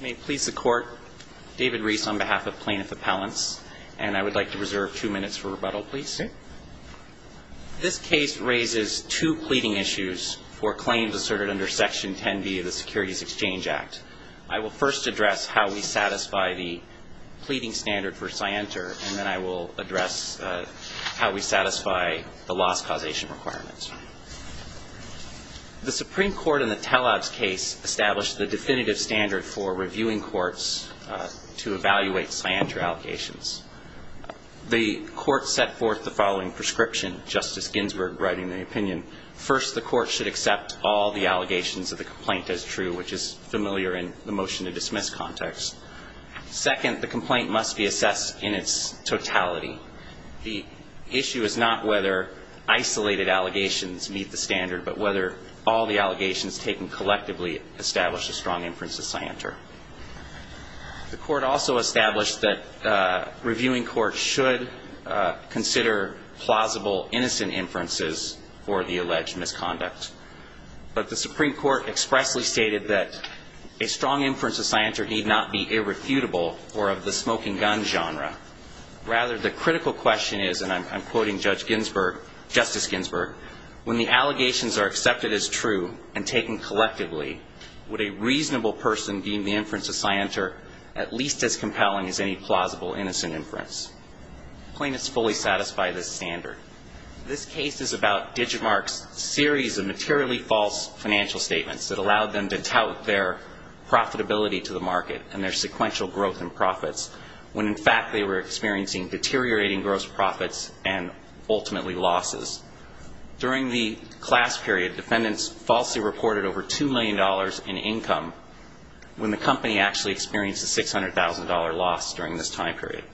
May it please the court, David Reese on behalf of Plaintiff Appellants and I would like to reserve two minutes for rebuttal please. This case raises two pleading issues for claims asserted under Section 10B of the Securities Exchange Act. I will first address how we satisfy the pleading standard for Scienter and then I will address how we satisfy the loss causation requirements. The Supreme Court in the Tellabs case established the definitive standard for reviewing courts to evaluate Scienter allegations. The court set forth the following prescription, Justice Ginsburg writing the opinion. First, the court should accept all the allegations of the complaint as true which is familiar in the motion to dismiss context. Second, the complaint must be assessed in its totality. The issue is not whether isolated allegations meet the standard but whether all the allegations taken collectively establish a strong inference of Scienter. The court also established that reviewing courts should consider plausible innocent inferences for the alleged misconduct. But the Supreme Court expressly stated that a strong inference of Scienter need not be irrefutable or of the smoking gun genre. Rather, the critical question is, and I'm quoting Judge Ginsburg, Justice Ginsburg, when the allegations are accepted as true and taken collectively, would a reasonable person deem the inference of Scienter at least as compelling as any plausible innocent inference? Plaintiffs fully satisfy this standard. This case is about Digimarc's series of materially false financial statements that allowed them to tout their profitability to the market and their sequential growth in profits when in fact they were experiencing deteriorating gross profits and ultimately losses. During the class period, defendants falsely reported over $2 million in income when the company actually experienced a $600,000 loss during this time period.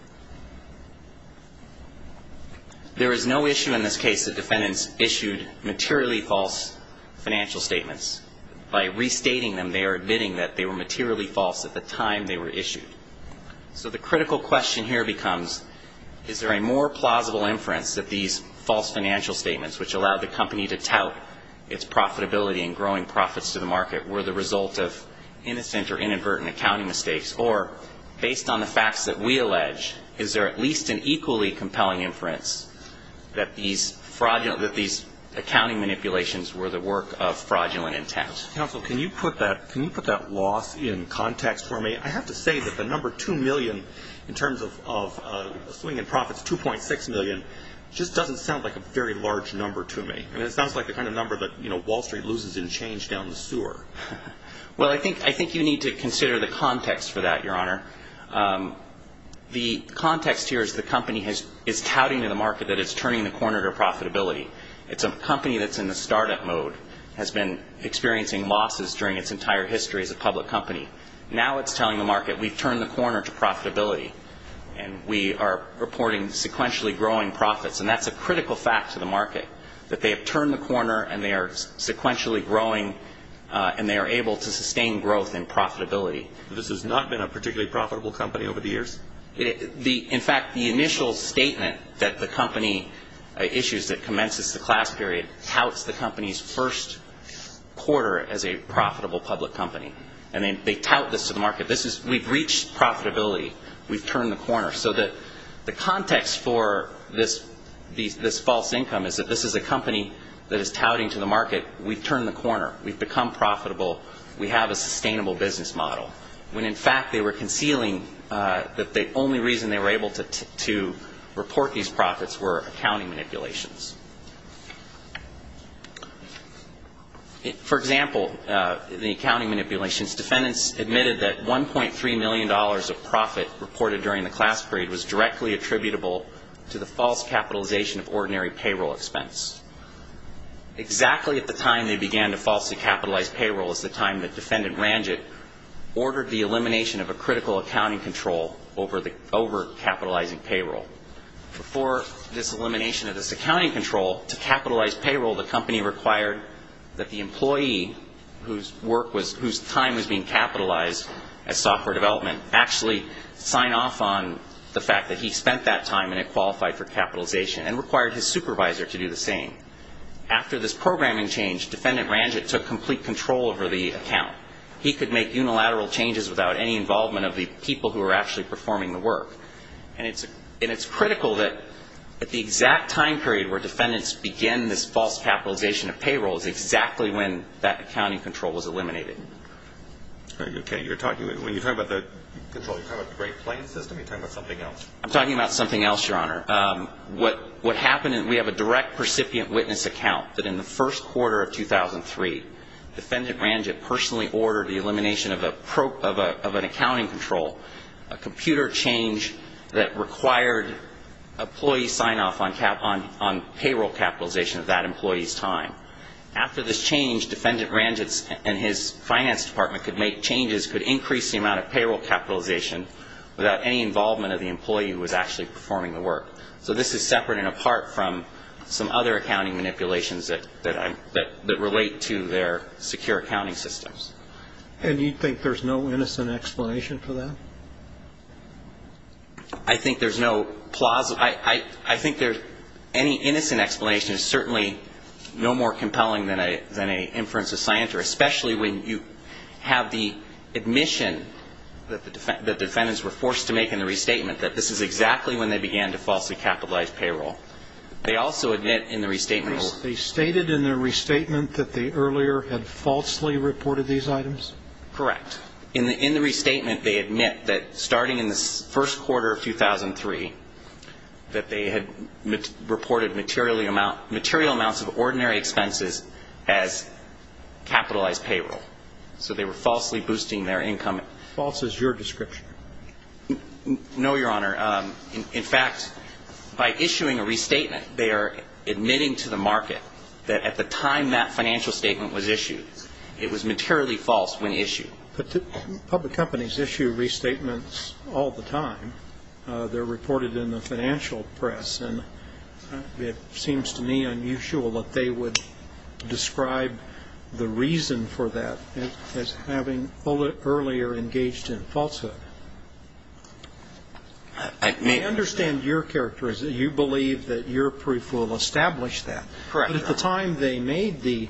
There is no issue in this case that defendants issued materially false financial statements. By restating them, they are admitting that they were materially false at the time they were issued. So the critical question here becomes, is there a more plausible inference that these false financial statements, which allowed the company to tout its profitability and growing profits to the market, were the result of innocent or inadvertent accounting mistakes? Or, based on the facts that we allege, is there at least an equally compelling inference that these fraudulent, that these accounting manipulations were the work of fraudulent intent? Mr. Counsel, can you put that loss in context for me? I have to say that the number $2 million in terms of swing in profits, $2.6 million, just doesn't sound like a very large number to me. I mean, it sounds like the kind of number that, you know, Wall Street loses in change down the sewer. Well, I think you need to consider the context for that, Your Honor. The context here is the company is touting to the market that it's turning the corner to profitability. It's a company that's in the startup mode, has been experiencing losses during its entire history as a public company. Now it's telling the market, we've turned the corner to profitability, and we are reporting sequentially growing profits. And that's a critical fact to the market, that they have turned the corner and they are sequentially growing and they are able to sustain growth and profitability. This has not been a particularly profitable company over the years? In fact, the initial statement that the company issues that commences the class period touts the company's first quarter as a profitable public company. And they tout this to the market. This is, we've reached profitability. We've turned the corner. So that the context for this false income is that this is a company that is touting to the market. We've turned the corner. We've become profitable. We have a sustainable business model. When in fact they were concealing that the only reason they were able to report these profits were accounting manipulations. For example, the accounting manipulations, defendants admitted that $1.3 million of profit reported during the class period was directly attributable to the false capitalization of ordinary payroll expense. Exactly at the time they began to falsely capitalize payroll is the time that Defendant Ranjit ordered the elimination of a critical accounting control over capitalizing payroll. Before this elimination of this accounting control, to capitalize payroll the company required that the employee whose time was being capitalized as software development actually sign off on the fact that he spent that time and it qualified for capitalization and required his supervisor to do the same. After this programming change, Defendant Ranjit took complete control over the account. He could make unilateral changes without any involvement of the people who were actually performing the work. And it's critical that at the exact time period where defendants begin this false capitalization of payroll is exactly when that accounting control was eliminated. Very good. When you're talking about the control, you're talking about the Great Plains system. You're talking about something else. I'm talking about something else, Your Honor. What happened is we have a direct recipient witness account that in the first quarter of 2003, Defendant Ranjit personally ordered the elimination of an accounting control, a computer change that required employee sign off on payroll capitalization of that employee's time. After this change, Defendant Ranjit and his finance department could make changes, could increase the amount of payroll capitalization without any involvement of the employee who was actually performing the work. So this is separate and apart from some other accounting manipulations that relate to their secure accounting systems. And you think there's no innocent explanation for that? I think there's no plausible. I think any innocent explanation is certainly no more compelling than an inference of scienter, especially when you have the admission that defendants were forced to make in the restatement that this is exactly when they began to falsely capitalize payroll. They also admit in the restatement that They stated in the restatement that they earlier had falsely reported these items? Correct. In the restatement, they admit that starting in the first quarter of 2003, that they had reported material amounts of ordinary expenses as capitalized payroll. So they were falsely boosting their income. False is your description? No, Your Honor. In fact, by issuing a restatement, they are admitting to the market that at the time that financial statement was issued, it was materially false when issued. But public companies issue restatements all the time. They're reported in the financial press. And it seems to me unusual that they would describe the reason for that as having earlier engaged in falsehood. I understand your characterism. You believe that your proof will establish that. Correct. But at the time they made the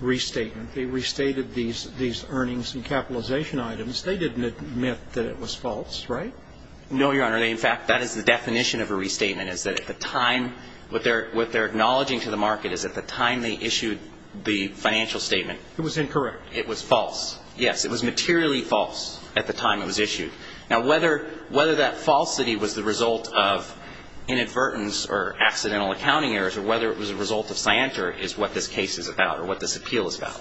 restatement, they restated these earnings and capitalization items. They didn't admit that it was false, right? No, Your Honor. In fact, that is the definition of a restatement, is that at the time, what they're acknowledging to the market is at the time they issued the financial statement, it was incorrect. It was false. Yes, it was materially false at the time it was issued. Now, whether that falsity was the result of inadvertence or accidental accounting errors or whether it was a result of scienter is what this case is about or what this appeal is about.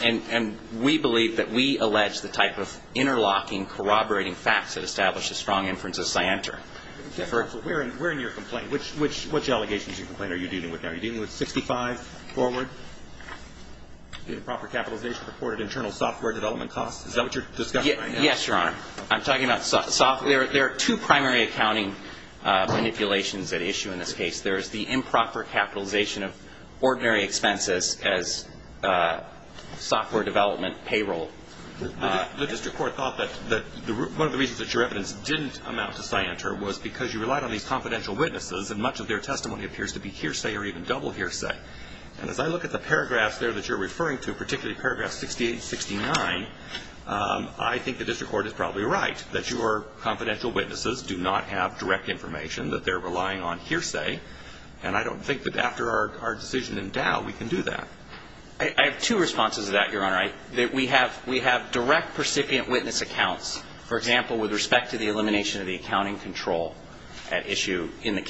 And we believe that we allege the type of interlocking, corroborating facts that establish a strong inference of scienter. We're in your complaint. Which allegations are you dealing with now? Are you dealing with 65 forward, the improper capitalization reported internal software development costs? Is that what you're discussing right now? Yes, Your Honor. I'm talking about software. There are two primary accounting manipulations at issue in this case. There is the improper capitalization of ordinary expenses as software development payroll. The district court thought that one of the reasons that your evidence didn't amount to scienter was because you relied on these confidential witnesses and much of their testimony appears to be hearsay or even double hearsay. And as I look at the paragraphs there that you're referring to, particularly paragraph 68 and 69, I think the district court is probably right, that your confidential witnesses do not have direct information, that they're relying on hearsay. And I don't think that after our decision in Dow, we can do that. I have two responses to that, Your Honor. We have direct percipient witness accounts. For example, with respect to the elimination of the accounting control at issue in the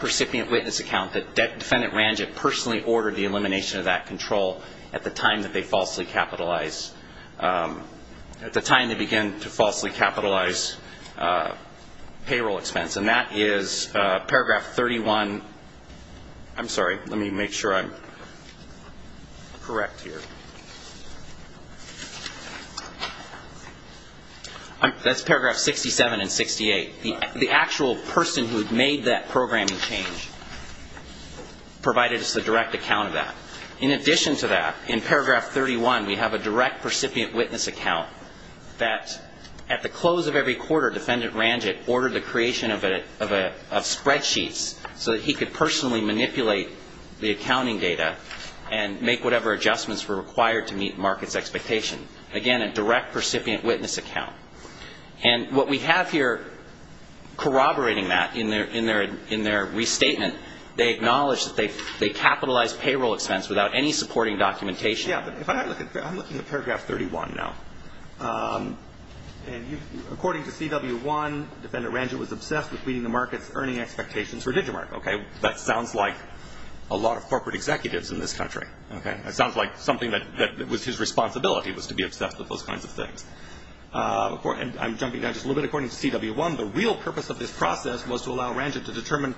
percipient witness account, that Defendant Ranjit personally ordered the elimination of that control at the time that they falsely capitalized, at the time they began to falsely capitalize payroll expense. And that is paragraph 31. I'm sorry. Let me make sure I'm correct here. That's paragraph 67 and 68. The actual person who had made that programming change provided us the direct account of that. In addition to that, in paragraph 31, we have a direct percipient witness account that at the close of every quarter, Defendant Ranjit ordered the creation of spreadsheets so that he could personally manipulate the accounting data and make whatever adjustments were required to meet market's expectation. Again, a direct percipient witness account. And what we have here corroborating that in their restatement, they acknowledge that they capitalized payroll expense without any supporting documentation. Yeah, but if I look at, I'm looking at paragraph 31 now. And according to CW1, Defendant Ranjit was obsessed with meeting the market's earning expectations for DigiMark, okay? That sounds like a lot of corporate executives in this country, okay? That sounds like something that was his responsibility was to be obsessed with those kinds of things. And I'm jumping down just a little bit. According to CW1, the real purpose of this process was to allow Ranjit to determine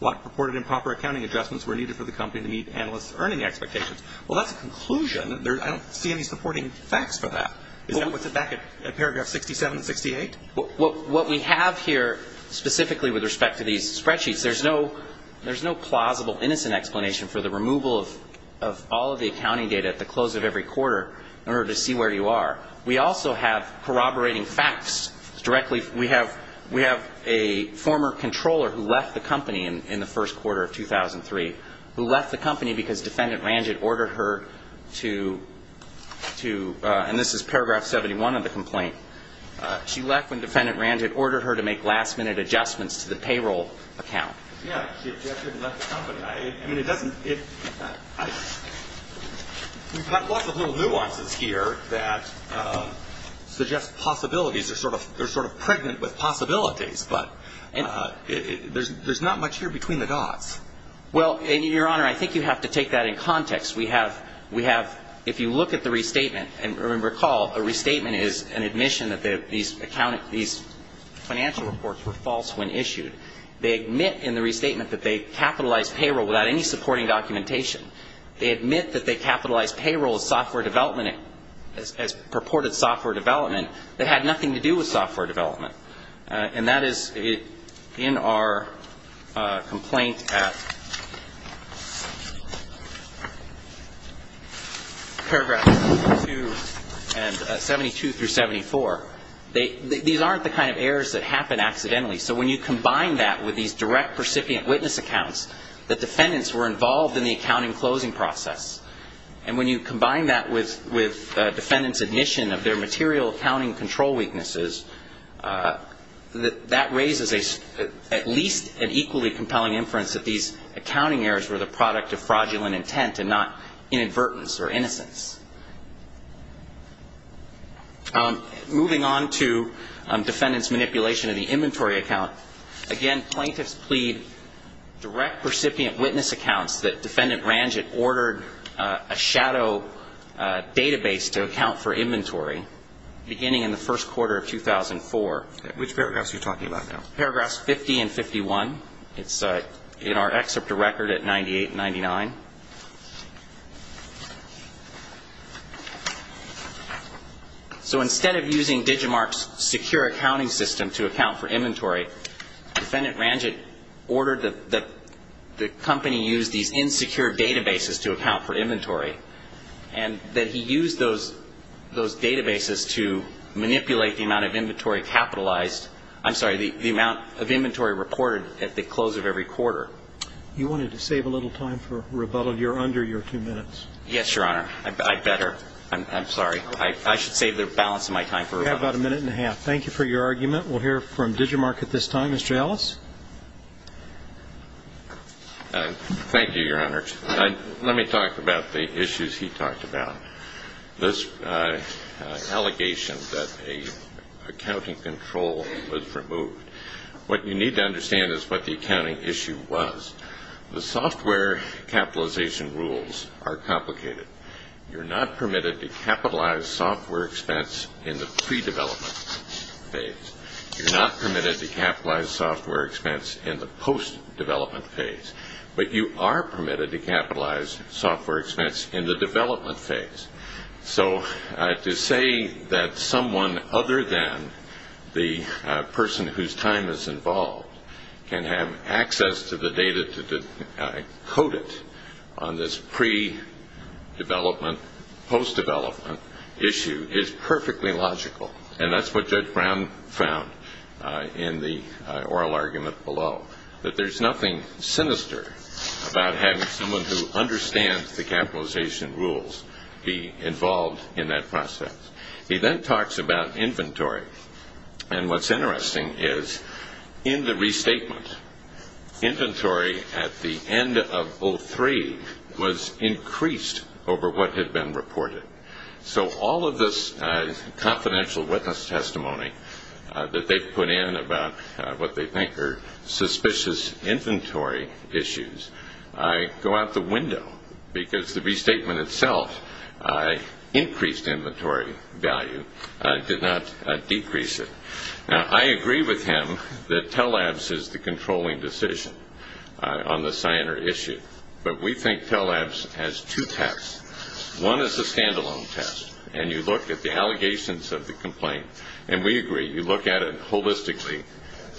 what purported improper accounting adjustments were needed for the company to meet analysts' earning expectations. Well, that's a conclusion. I don't see any supporting facts for that. Is that what's at back at paragraph 67 and 68? What we have here specifically with respect to these spreadsheets, there's no plausible innocent explanation for the removal of all of the accounting data at the close of every quarter in order to see where you are. We also have corroborating facts directly. We have a former controller who left the company in the first quarter of 2003, who left the company because Defendant Ranjit ordered her to, and this is paragraph 71 of the complaint, she left when Defendant Ranjit ordered her to make last-minute adjustments to the payroll account. Yeah, she objected and left the company. I mean, it doesn't, it, we've got lots of little nuances here that suggest possibilities. They're sort of pregnant with possibilities, but there's not much here between the dots. Well, Your Honor, I think you have to take that in context. We have, if you look at the restatement, and recall, a restatement is an admission that these financial reports were false when issued. They admit in the restatement that they capitalized payroll without any supporting documentation. They admit that they capitalized payroll as software development, as purported software development that had nothing to do with software development. And that is in our complaint at paragraph 72 and, 72 through 74. These aren't the kind of errors that happen accidentally. So when you combine that with these direct percipient witness accounts, that defendants were involved in the accounting closing process, and when you combine that with defendants' admission of their material accounting control weaknesses, that raises at least an equally compelling inference that these accounting errors were the product of fraudulent intent and not inadvertence or innocence. Moving on to defendants' manipulation of the inventory account, again, plaintiffs plead direct percipient witness accounts that defendant Ranjit ordered a shadow database to account for inventory beginning in the first quarter of 2004. Which paragraphs are you talking about now? Paragraphs 50 and 51. It's in our excerpt to record at 98 and 99. So instead of using DigiMark's secure accounting system to account for inventory, defendant Ranjit ordered that the company use these insecure databases to account for inventory, and that he used those databases to manipulate the amount of inventory capitalized I'm sorry, the amount of inventory reported at the close of every quarter. You wanted to save a little time for rebuttal. You're under your two minutes. Yes, Your Honor. I better. I'm sorry. I should save the balance of my time for rebuttal. You have about a minute and a half. Thank you for your argument. We'll hear from DigiMark at this time. Mr. Ellis? Thank you, Your Honor. Let me talk about the issues he talked about. This allegation that a accounting control was removed. What you need to understand is what the accounting issue was. The software capitalization rules are complicated. You're not permitted to capitalize software expense in the pre-development phase. You're not permitted to capitalize software expense in the post-development phase. But you are permitted to capitalize software expense in the development phase. So to say that someone other than the person whose time is involved can have access to the data to decode it on this pre-development, post-development issue is perfectly logical. And that's what Judge Brown found in the oral argument below, that there's nothing sinister about having someone who understands the capitalization rules be involved in that process. He then talks about inventory. And what's interesting is in the restatement, inventory at the end of 03 was increased over what had been reported. So all of this confidential witness testimony that they've put in about what they think are suspicious inventory issues go out the window because the restatement itself increased inventory value, did not decrease it. Now, I agree with him that Telabs is the controlling decision on the Cyanar issue. But we think Telabs has two tests. One is the stand-alone test, and you look at the allegations of the complaint, and we agree, you look at it holistically,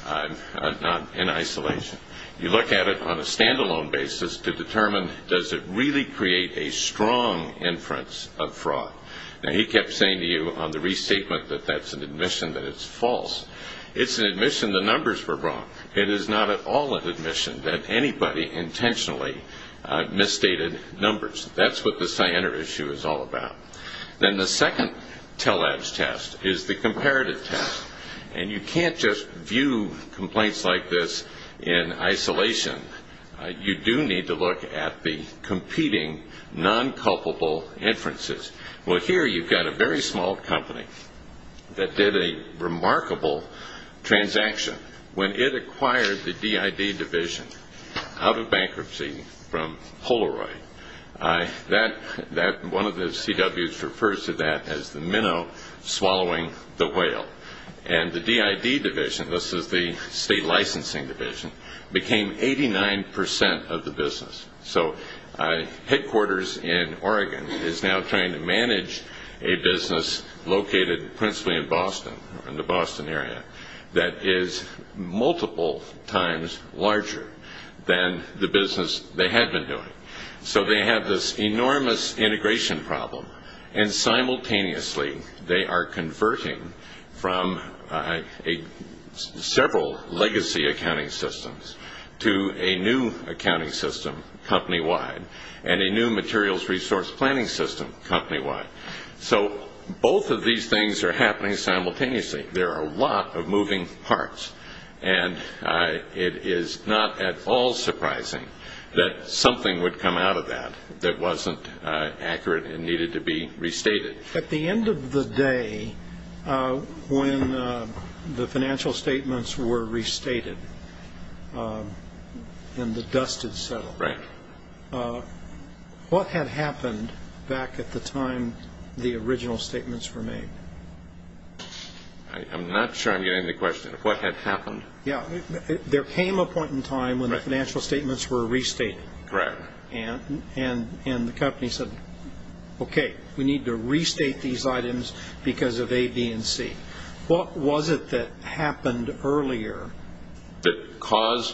not in isolation. You look at it on a stand-alone basis to determine does it really create a strong inference of fraud. Now, he kept saying to you on the restatement that that's an admission that it's false. It's an admission the numbers were wrong. It is not at all an admission that anybody intentionally misstated numbers. That's what the Cyanar issue is all about. Then the second Telabs test is the comparative test. And you can't just view complaints like this in isolation. You do need to look at the competing non-culpable inferences. Well, here you've got a very small company that did a remarkable transaction. When it acquired the DID division out of bankruptcy from Polaroid, one of the CWs refers to that as the minnow swallowing the whale. And the DID division, this is the state licensing division, became 89% of the business. So headquarters in Oregon is now trying to manage a business located principally in Boston, in the Boston area, that is multiple times larger than the business they had been doing. So they have this enormous integration problem, and simultaneously they are converting from several legacy accounting systems to a new accounting system company-wide and a new materials resource planning system company-wide. So both of these things are happening simultaneously. There are a lot of moving parts, and it is not at all surprising that something would come out of that that wasn't accurate and needed to be restated. At the end of the day, when the financial statements were restated and the dust had settled, what had happened back at the time the original statements were made? I'm not sure I'm getting the question. What had happened? There came a point in time when the financial statements were restated, and the company said, okay, we need to restate these items because of A, B, and C. What was it that happened earlier?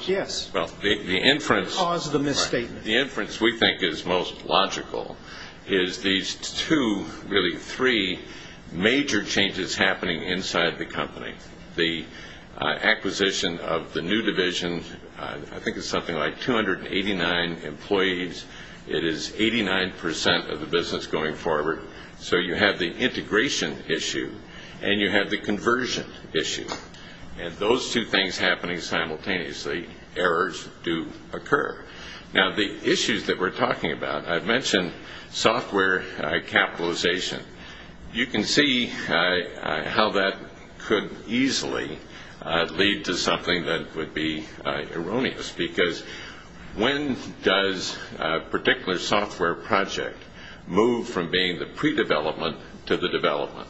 Yes. The inference we think is most logical is these two, really three, major changes happening inside the company. The acquisition of the new division, I think it's something like 289 employees. It is 89% of the business going forward. So you have the integration issue, and you have the conversion issue. And those two things happening simultaneously, errors do occur. Now, the issues that we're talking about, I've mentioned software capitalization. You can see how that could easily lead to something that would be erroneous, because when does a particular software project move from being the pre-development to the development?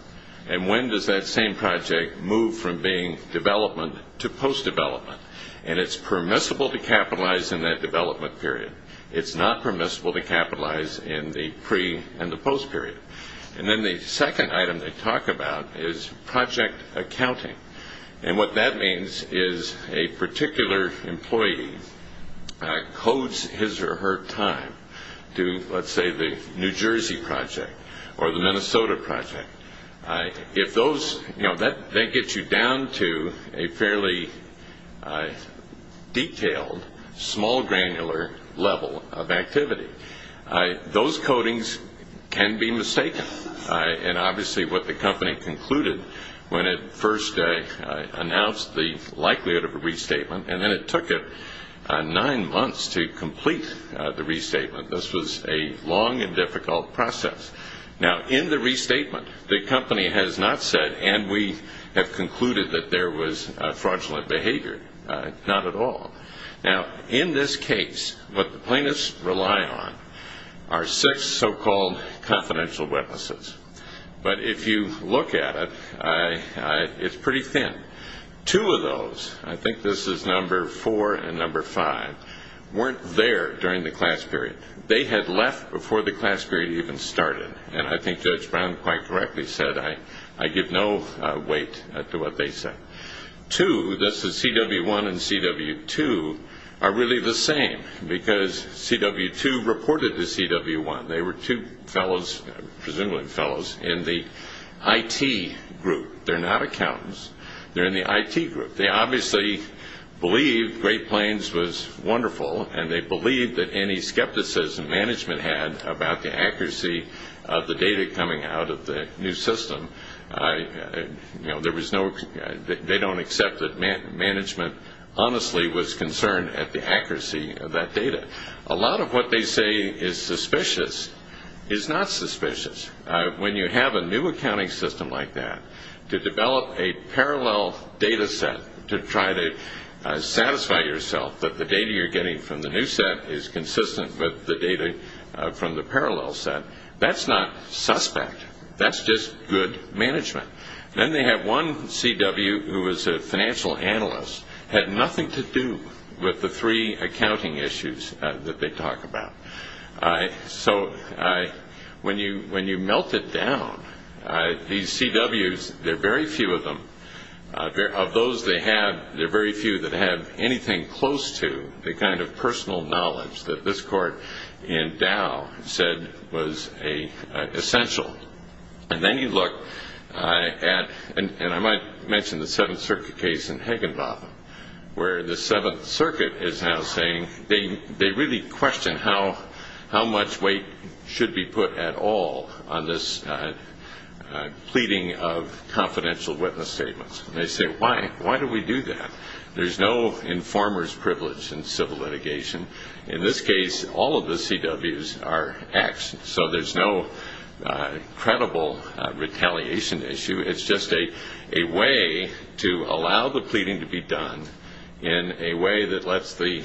And when does that same project move from being development to post-development? And it's permissible to capitalize in that development period. It's not permissible to capitalize in the pre- and the post-period. And then the second item to talk about is project accounting. And what that means is a particular employee codes his or her time to, let's say, the New Jersey project or the Minnesota project. If those, you know, that gets you down to a fairly detailed, small granular level of activity. Those codings can be mistaken. And obviously what the company concluded when it first announced the likelihood of a restatement, and then it took it nine months to complete the restatement. This was a long and difficult process. Now, in the restatement, the company has not said, and we have concluded that there was fraudulent behavior. Not at all. Now, in this case, what the plaintiffs rely on are six so-called confidential witnesses. But if you look at it, it's pretty thin. Two of those, I think this is number four and number five, weren't there during the class period. They had left before the class period even started. And I think Judge Brown quite correctly said, I give no weight to what they say. Two, this is CW1 and CW2, are really the same because CW2 reported to CW1. They were two fellows, presumably fellows, in the IT group. They're not accountants. They're in the IT group. They obviously believe Great Plains was wonderful, and they believe that any skepticism management had about the accuracy of the data coming out of the new system. They don't accept that management honestly was concerned at the accuracy of that data. A lot of what they say is suspicious is not suspicious. When you have a new accounting system like that, to develop a parallel data set to try to satisfy yourself that the data you're getting from the new set is consistent with the data from the parallel set, that's not suspect. That's just good management. Then they have one CW who was a financial analyst, had nothing to do with the three accounting issues that they talk about. So when you melt it down, these CWs, there are very few of them. Of those they have, there are very few that have anything close to the kind of personal knowledge that this court in Dow said was essential. And then you look at, and I might mention the Seventh Circuit case in Higginbotham, where the Seventh Circuit is now saying they really question how much weight should be put at all on this pleading of confidential witness statements. They say, why do we do that? There's no informer's privilege in civil litigation. In this case, all of the CWs are X, so there's no credible retaliation issue. It's just a way to allow the pleading to be done in a way that lets the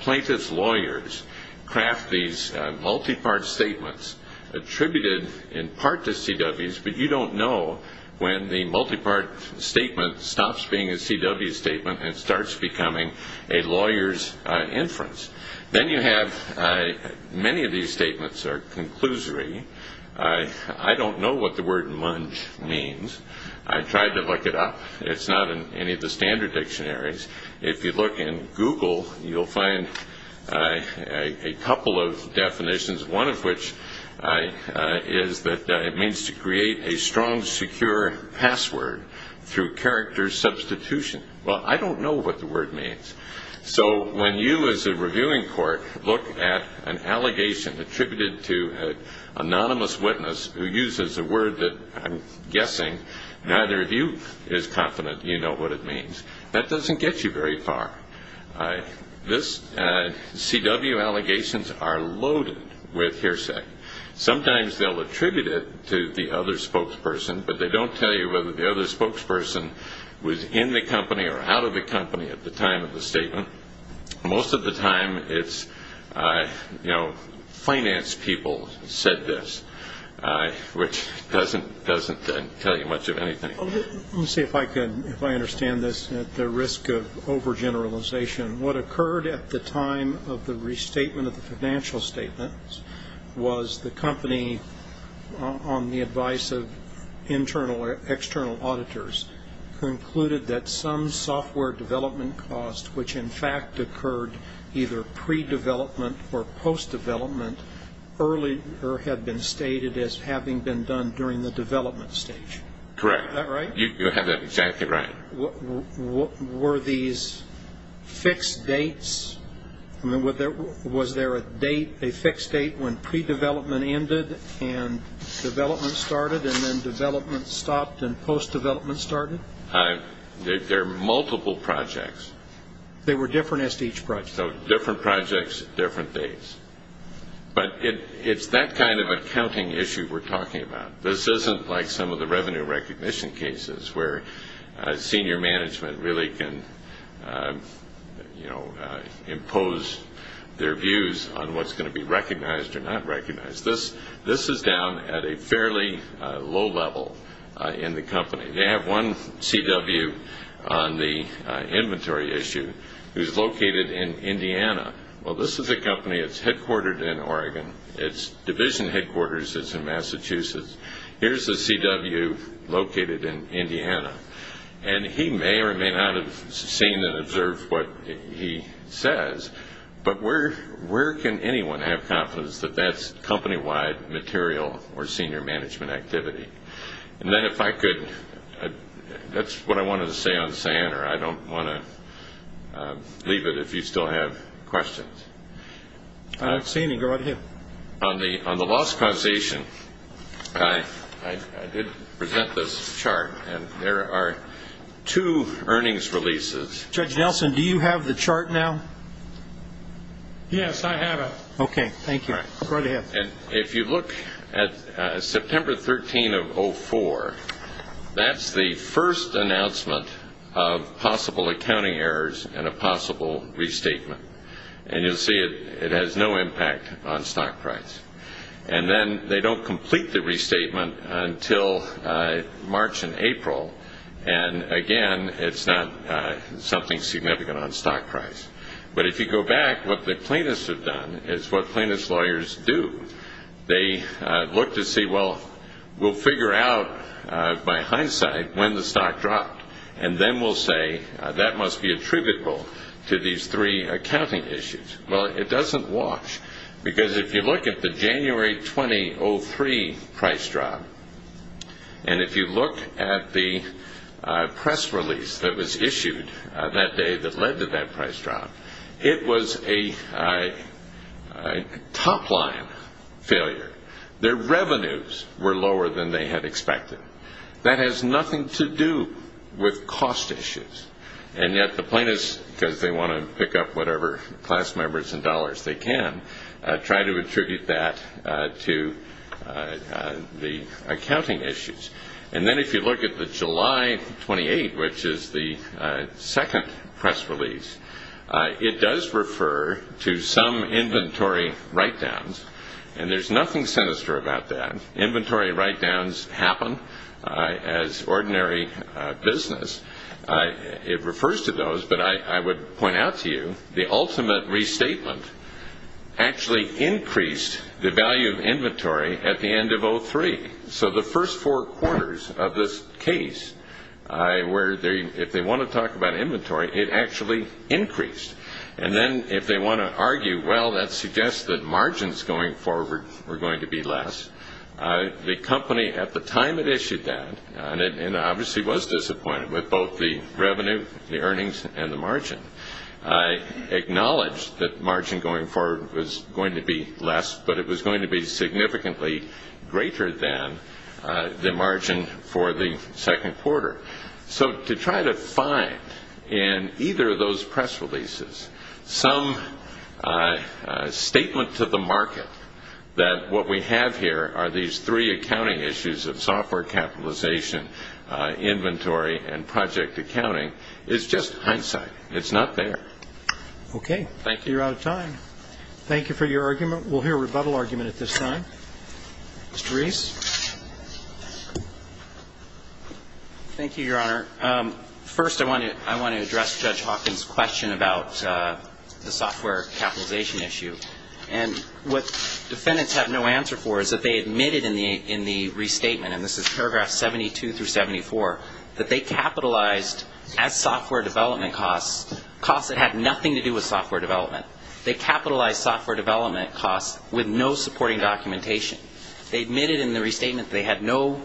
plaintiff's lawyers craft these multi-part statements, attributed in part to CWs, but you don't know when the multi-part statement stops being a CW statement and starts becoming a lawyer's inference. Then you have, many of these statements are conclusory. I don't know what the word munge means. I tried to look it up. It's not in any of the standard dictionaries. If you look in Google, you'll find a couple of definitions, one of which is that it means to create a strong, secure password through character substitution. Well, I don't know what the word means. So when you, as a reviewing court, look at an allegation attributed to an anonymous witness, who uses a word that I'm guessing neither of you is confident you know what it means, that doesn't get you very far. This CW allegations are loaded with hearsay. Sometimes they'll attribute it to the other spokesperson, but they don't tell you whether the other spokesperson was in the company or out of the company at the time of the statement. Most of the time it's, you know, finance people said this, which doesn't tell you much of anything. Let me see if I can, if I understand this at the risk of overgeneralization. What occurred at the time of the restatement of the financial statements was the company, on the advice of internal or external auditors, concluded that some software development cost, which in fact occurred either pre-development or post-development, earlier had been stated as having been done during the development stage. Correct. Is that right? You have that exactly right. Were these fixed dates? I mean, was there a date, a fixed date when pre-development ended and development started and then development stopped and post-development started? There are multiple projects. They were different as to each project. So different projects, different dates. But it's that kind of accounting issue we're talking about. This isn't like some of the revenue recognition cases where senior management really can, you know, impose their views on what's going to be recognized or not recognized. This is down at a fairly low level in the company. They have one CW on the inventory issue who's located in Indiana. Well, this is a company that's headquartered in Oregon. Its division headquarters is in Massachusetts. Here's the CW located in Indiana. And he may or may not have seen and observed what he says, but where can anyone have confidence that that's company-wide material or senior management activity? And then if I could, that's what I wanted to say on SAN, or I don't want to leave it if you still have questions. I don't see any. Go right ahead. On the loss causation, I did present this chart, and there are two earnings releases. Judge Nelson, do you have the chart now? Yes, I have it. Okay, thank you. Go right ahead. And if you look at September 13 of 2004, that's the first announcement of possible accounting errors and a possible restatement. And you'll see it has no impact on stock price. And then they don't complete the restatement until March and April. And, again, it's not something significant on stock price. But if you go back, what the plaintiffs have done is what plaintiffs' lawyers do. They look to see, well, we'll figure out by hindsight when the stock dropped, and then we'll say that must be attributable to these three accounting issues. Well, it doesn't wash. Because if you look at the January 2003 price drop, and if you look at the press release that was issued that day that led to that price drop, it was a top-line failure. Their revenues were lower than they had expected. That has nothing to do with cost issues. And yet the plaintiffs, because they want to pick up whatever class members and dollars they can, try to attribute that to the accounting issues. And then if you look at the July 28, which is the second press release, it does refer to some inventory write-downs. And there's nothing sinister about that. Inventory write-downs happen as ordinary business. It refers to those. But I would point out to you the ultimate restatement actually increased the value of inventory at the end of 03. So the first four quarters of this case, if they want to talk about inventory, it actually increased. And then if they want to argue, well, that suggests that margins going forward were going to be less, the company at the time it issued that, and obviously was disappointed with both the revenue, the earnings, and the margin, acknowledged that margin going forward was going to be less, but it was going to be significantly greater than the margin for the second quarter. So to try to find in either of those press releases some statement to the market that what we have here are these three accounting issues of software capitalization, inventory, and project accounting is just hindsight. It's not there. Okay. Thank you. You're out of time. Thank you for your argument. We'll hear a rebuttal argument at this time. Mr. Reese? Thank you, Your Honor. First, I want to address Judge Hawkins' question about the software capitalization issue. And what defendants have no answer for is that they admitted in the restatement, and this is paragraph 72 through 74, that they capitalized as software development costs, costs that had nothing to do with software development. They capitalized software development costs with no supporting documentation. They admitted in the restatement they had no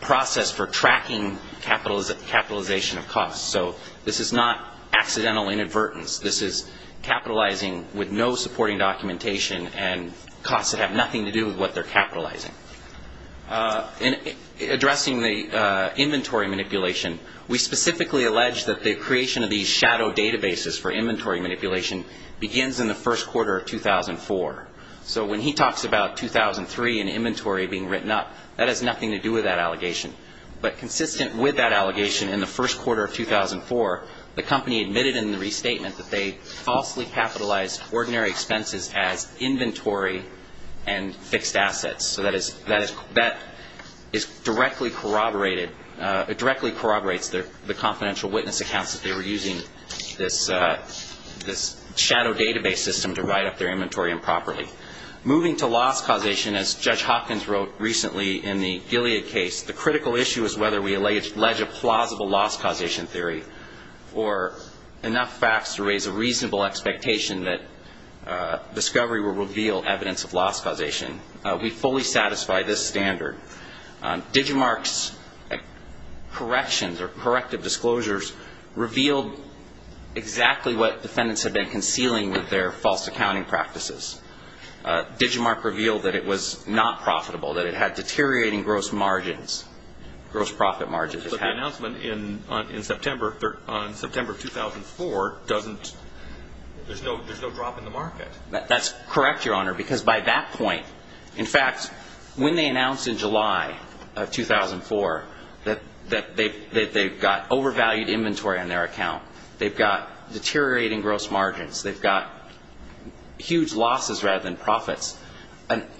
process for tracking capitalization of costs. So this is not accidental inadvertence. This is capitalizing with no supporting documentation and costs that have nothing to do with what they're capitalizing. In addressing the inventory manipulation, we specifically allege that the creation of these shadow databases for inventory manipulation begins in the first quarter of 2004. So when he talks about 2003 and inventory being written up, that has nothing to do with that allegation. But consistent with that allegation in the first quarter of 2004, the company admitted in the restatement that they falsely capitalized ordinary expenses as inventory and fixed assets. So that is directly corroborated. It directly corroborates the confidential witness accounts that they were using this shadow database system to write up their inventory improperly. Moving to loss causation, as Judge Hopkins wrote recently in the Gilead case, the critical issue is whether we allege a plausible loss causation theory or enough facts to raise a reasonable expectation that discovery will reveal evidence of loss causation. We fully satisfy this standard. Digimarc's corrections or corrective disclosures revealed exactly what defendants had been concealing with their false accounting practices. Digimarc revealed that it was not profitable, that it had deteriorating gross margins, gross profit margins. But the announcement in September of 2004 doesn't – there's no drop in the market. That's correct, Your Honor, because by that point – in fact, when they announced in July of 2004 that they've got overvalued inventory on their account, they've got deteriorating gross margins, they've got huge losses rather than profits,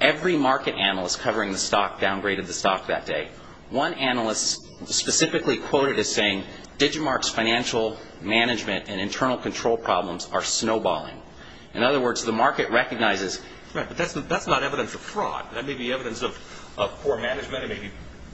every market analyst covering the stock downgraded the stock that day. One analyst specifically quoted as saying, Digimarc's financial management and internal control problems are snowballing. In other words, the market recognizes – Right, but that's not evidence of fraud. That may be evidence of poor management, it may be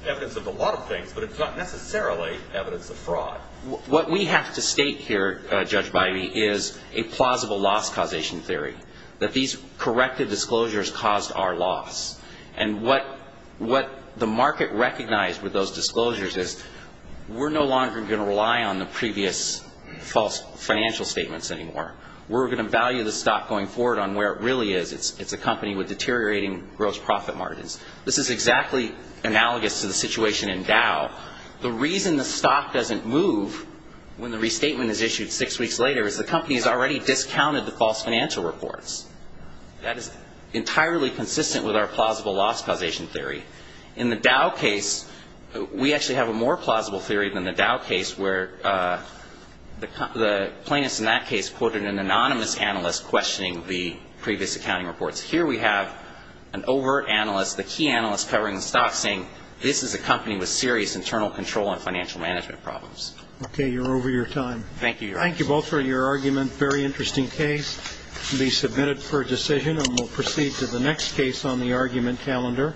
evidence of a lot of things, but it's not necessarily evidence of fraud. What we have to state here, Judge Biby, is a plausible loss causation theory, that these corrective disclosures caused our loss. And what the market recognized with those disclosures is we're no longer going to rely on the previous false financial statements anymore. We're going to value the stock going forward on where it really is. It's a company with deteriorating gross profit margins. This is exactly analogous to the situation in Dow. The reason the stock doesn't move when the restatement is issued six weeks later is the company has already discounted the false financial reports. That is entirely consistent with our plausible loss causation theory. In the Dow case, we actually have a more plausible theory than the Dow case where the plaintiffs in that case quoted an anonymous analyst questioning the previous accounting reports. Here we have an overt analyst, the key analyst covering the stock, saying this is a company with serious internal control and financial management problems. Okay, you're over your time. Thank you, Your Honor. Thank you both for your argument. Very interesting case. It will be submitted for decision, and we'll proceed to the next case on the argument calendar.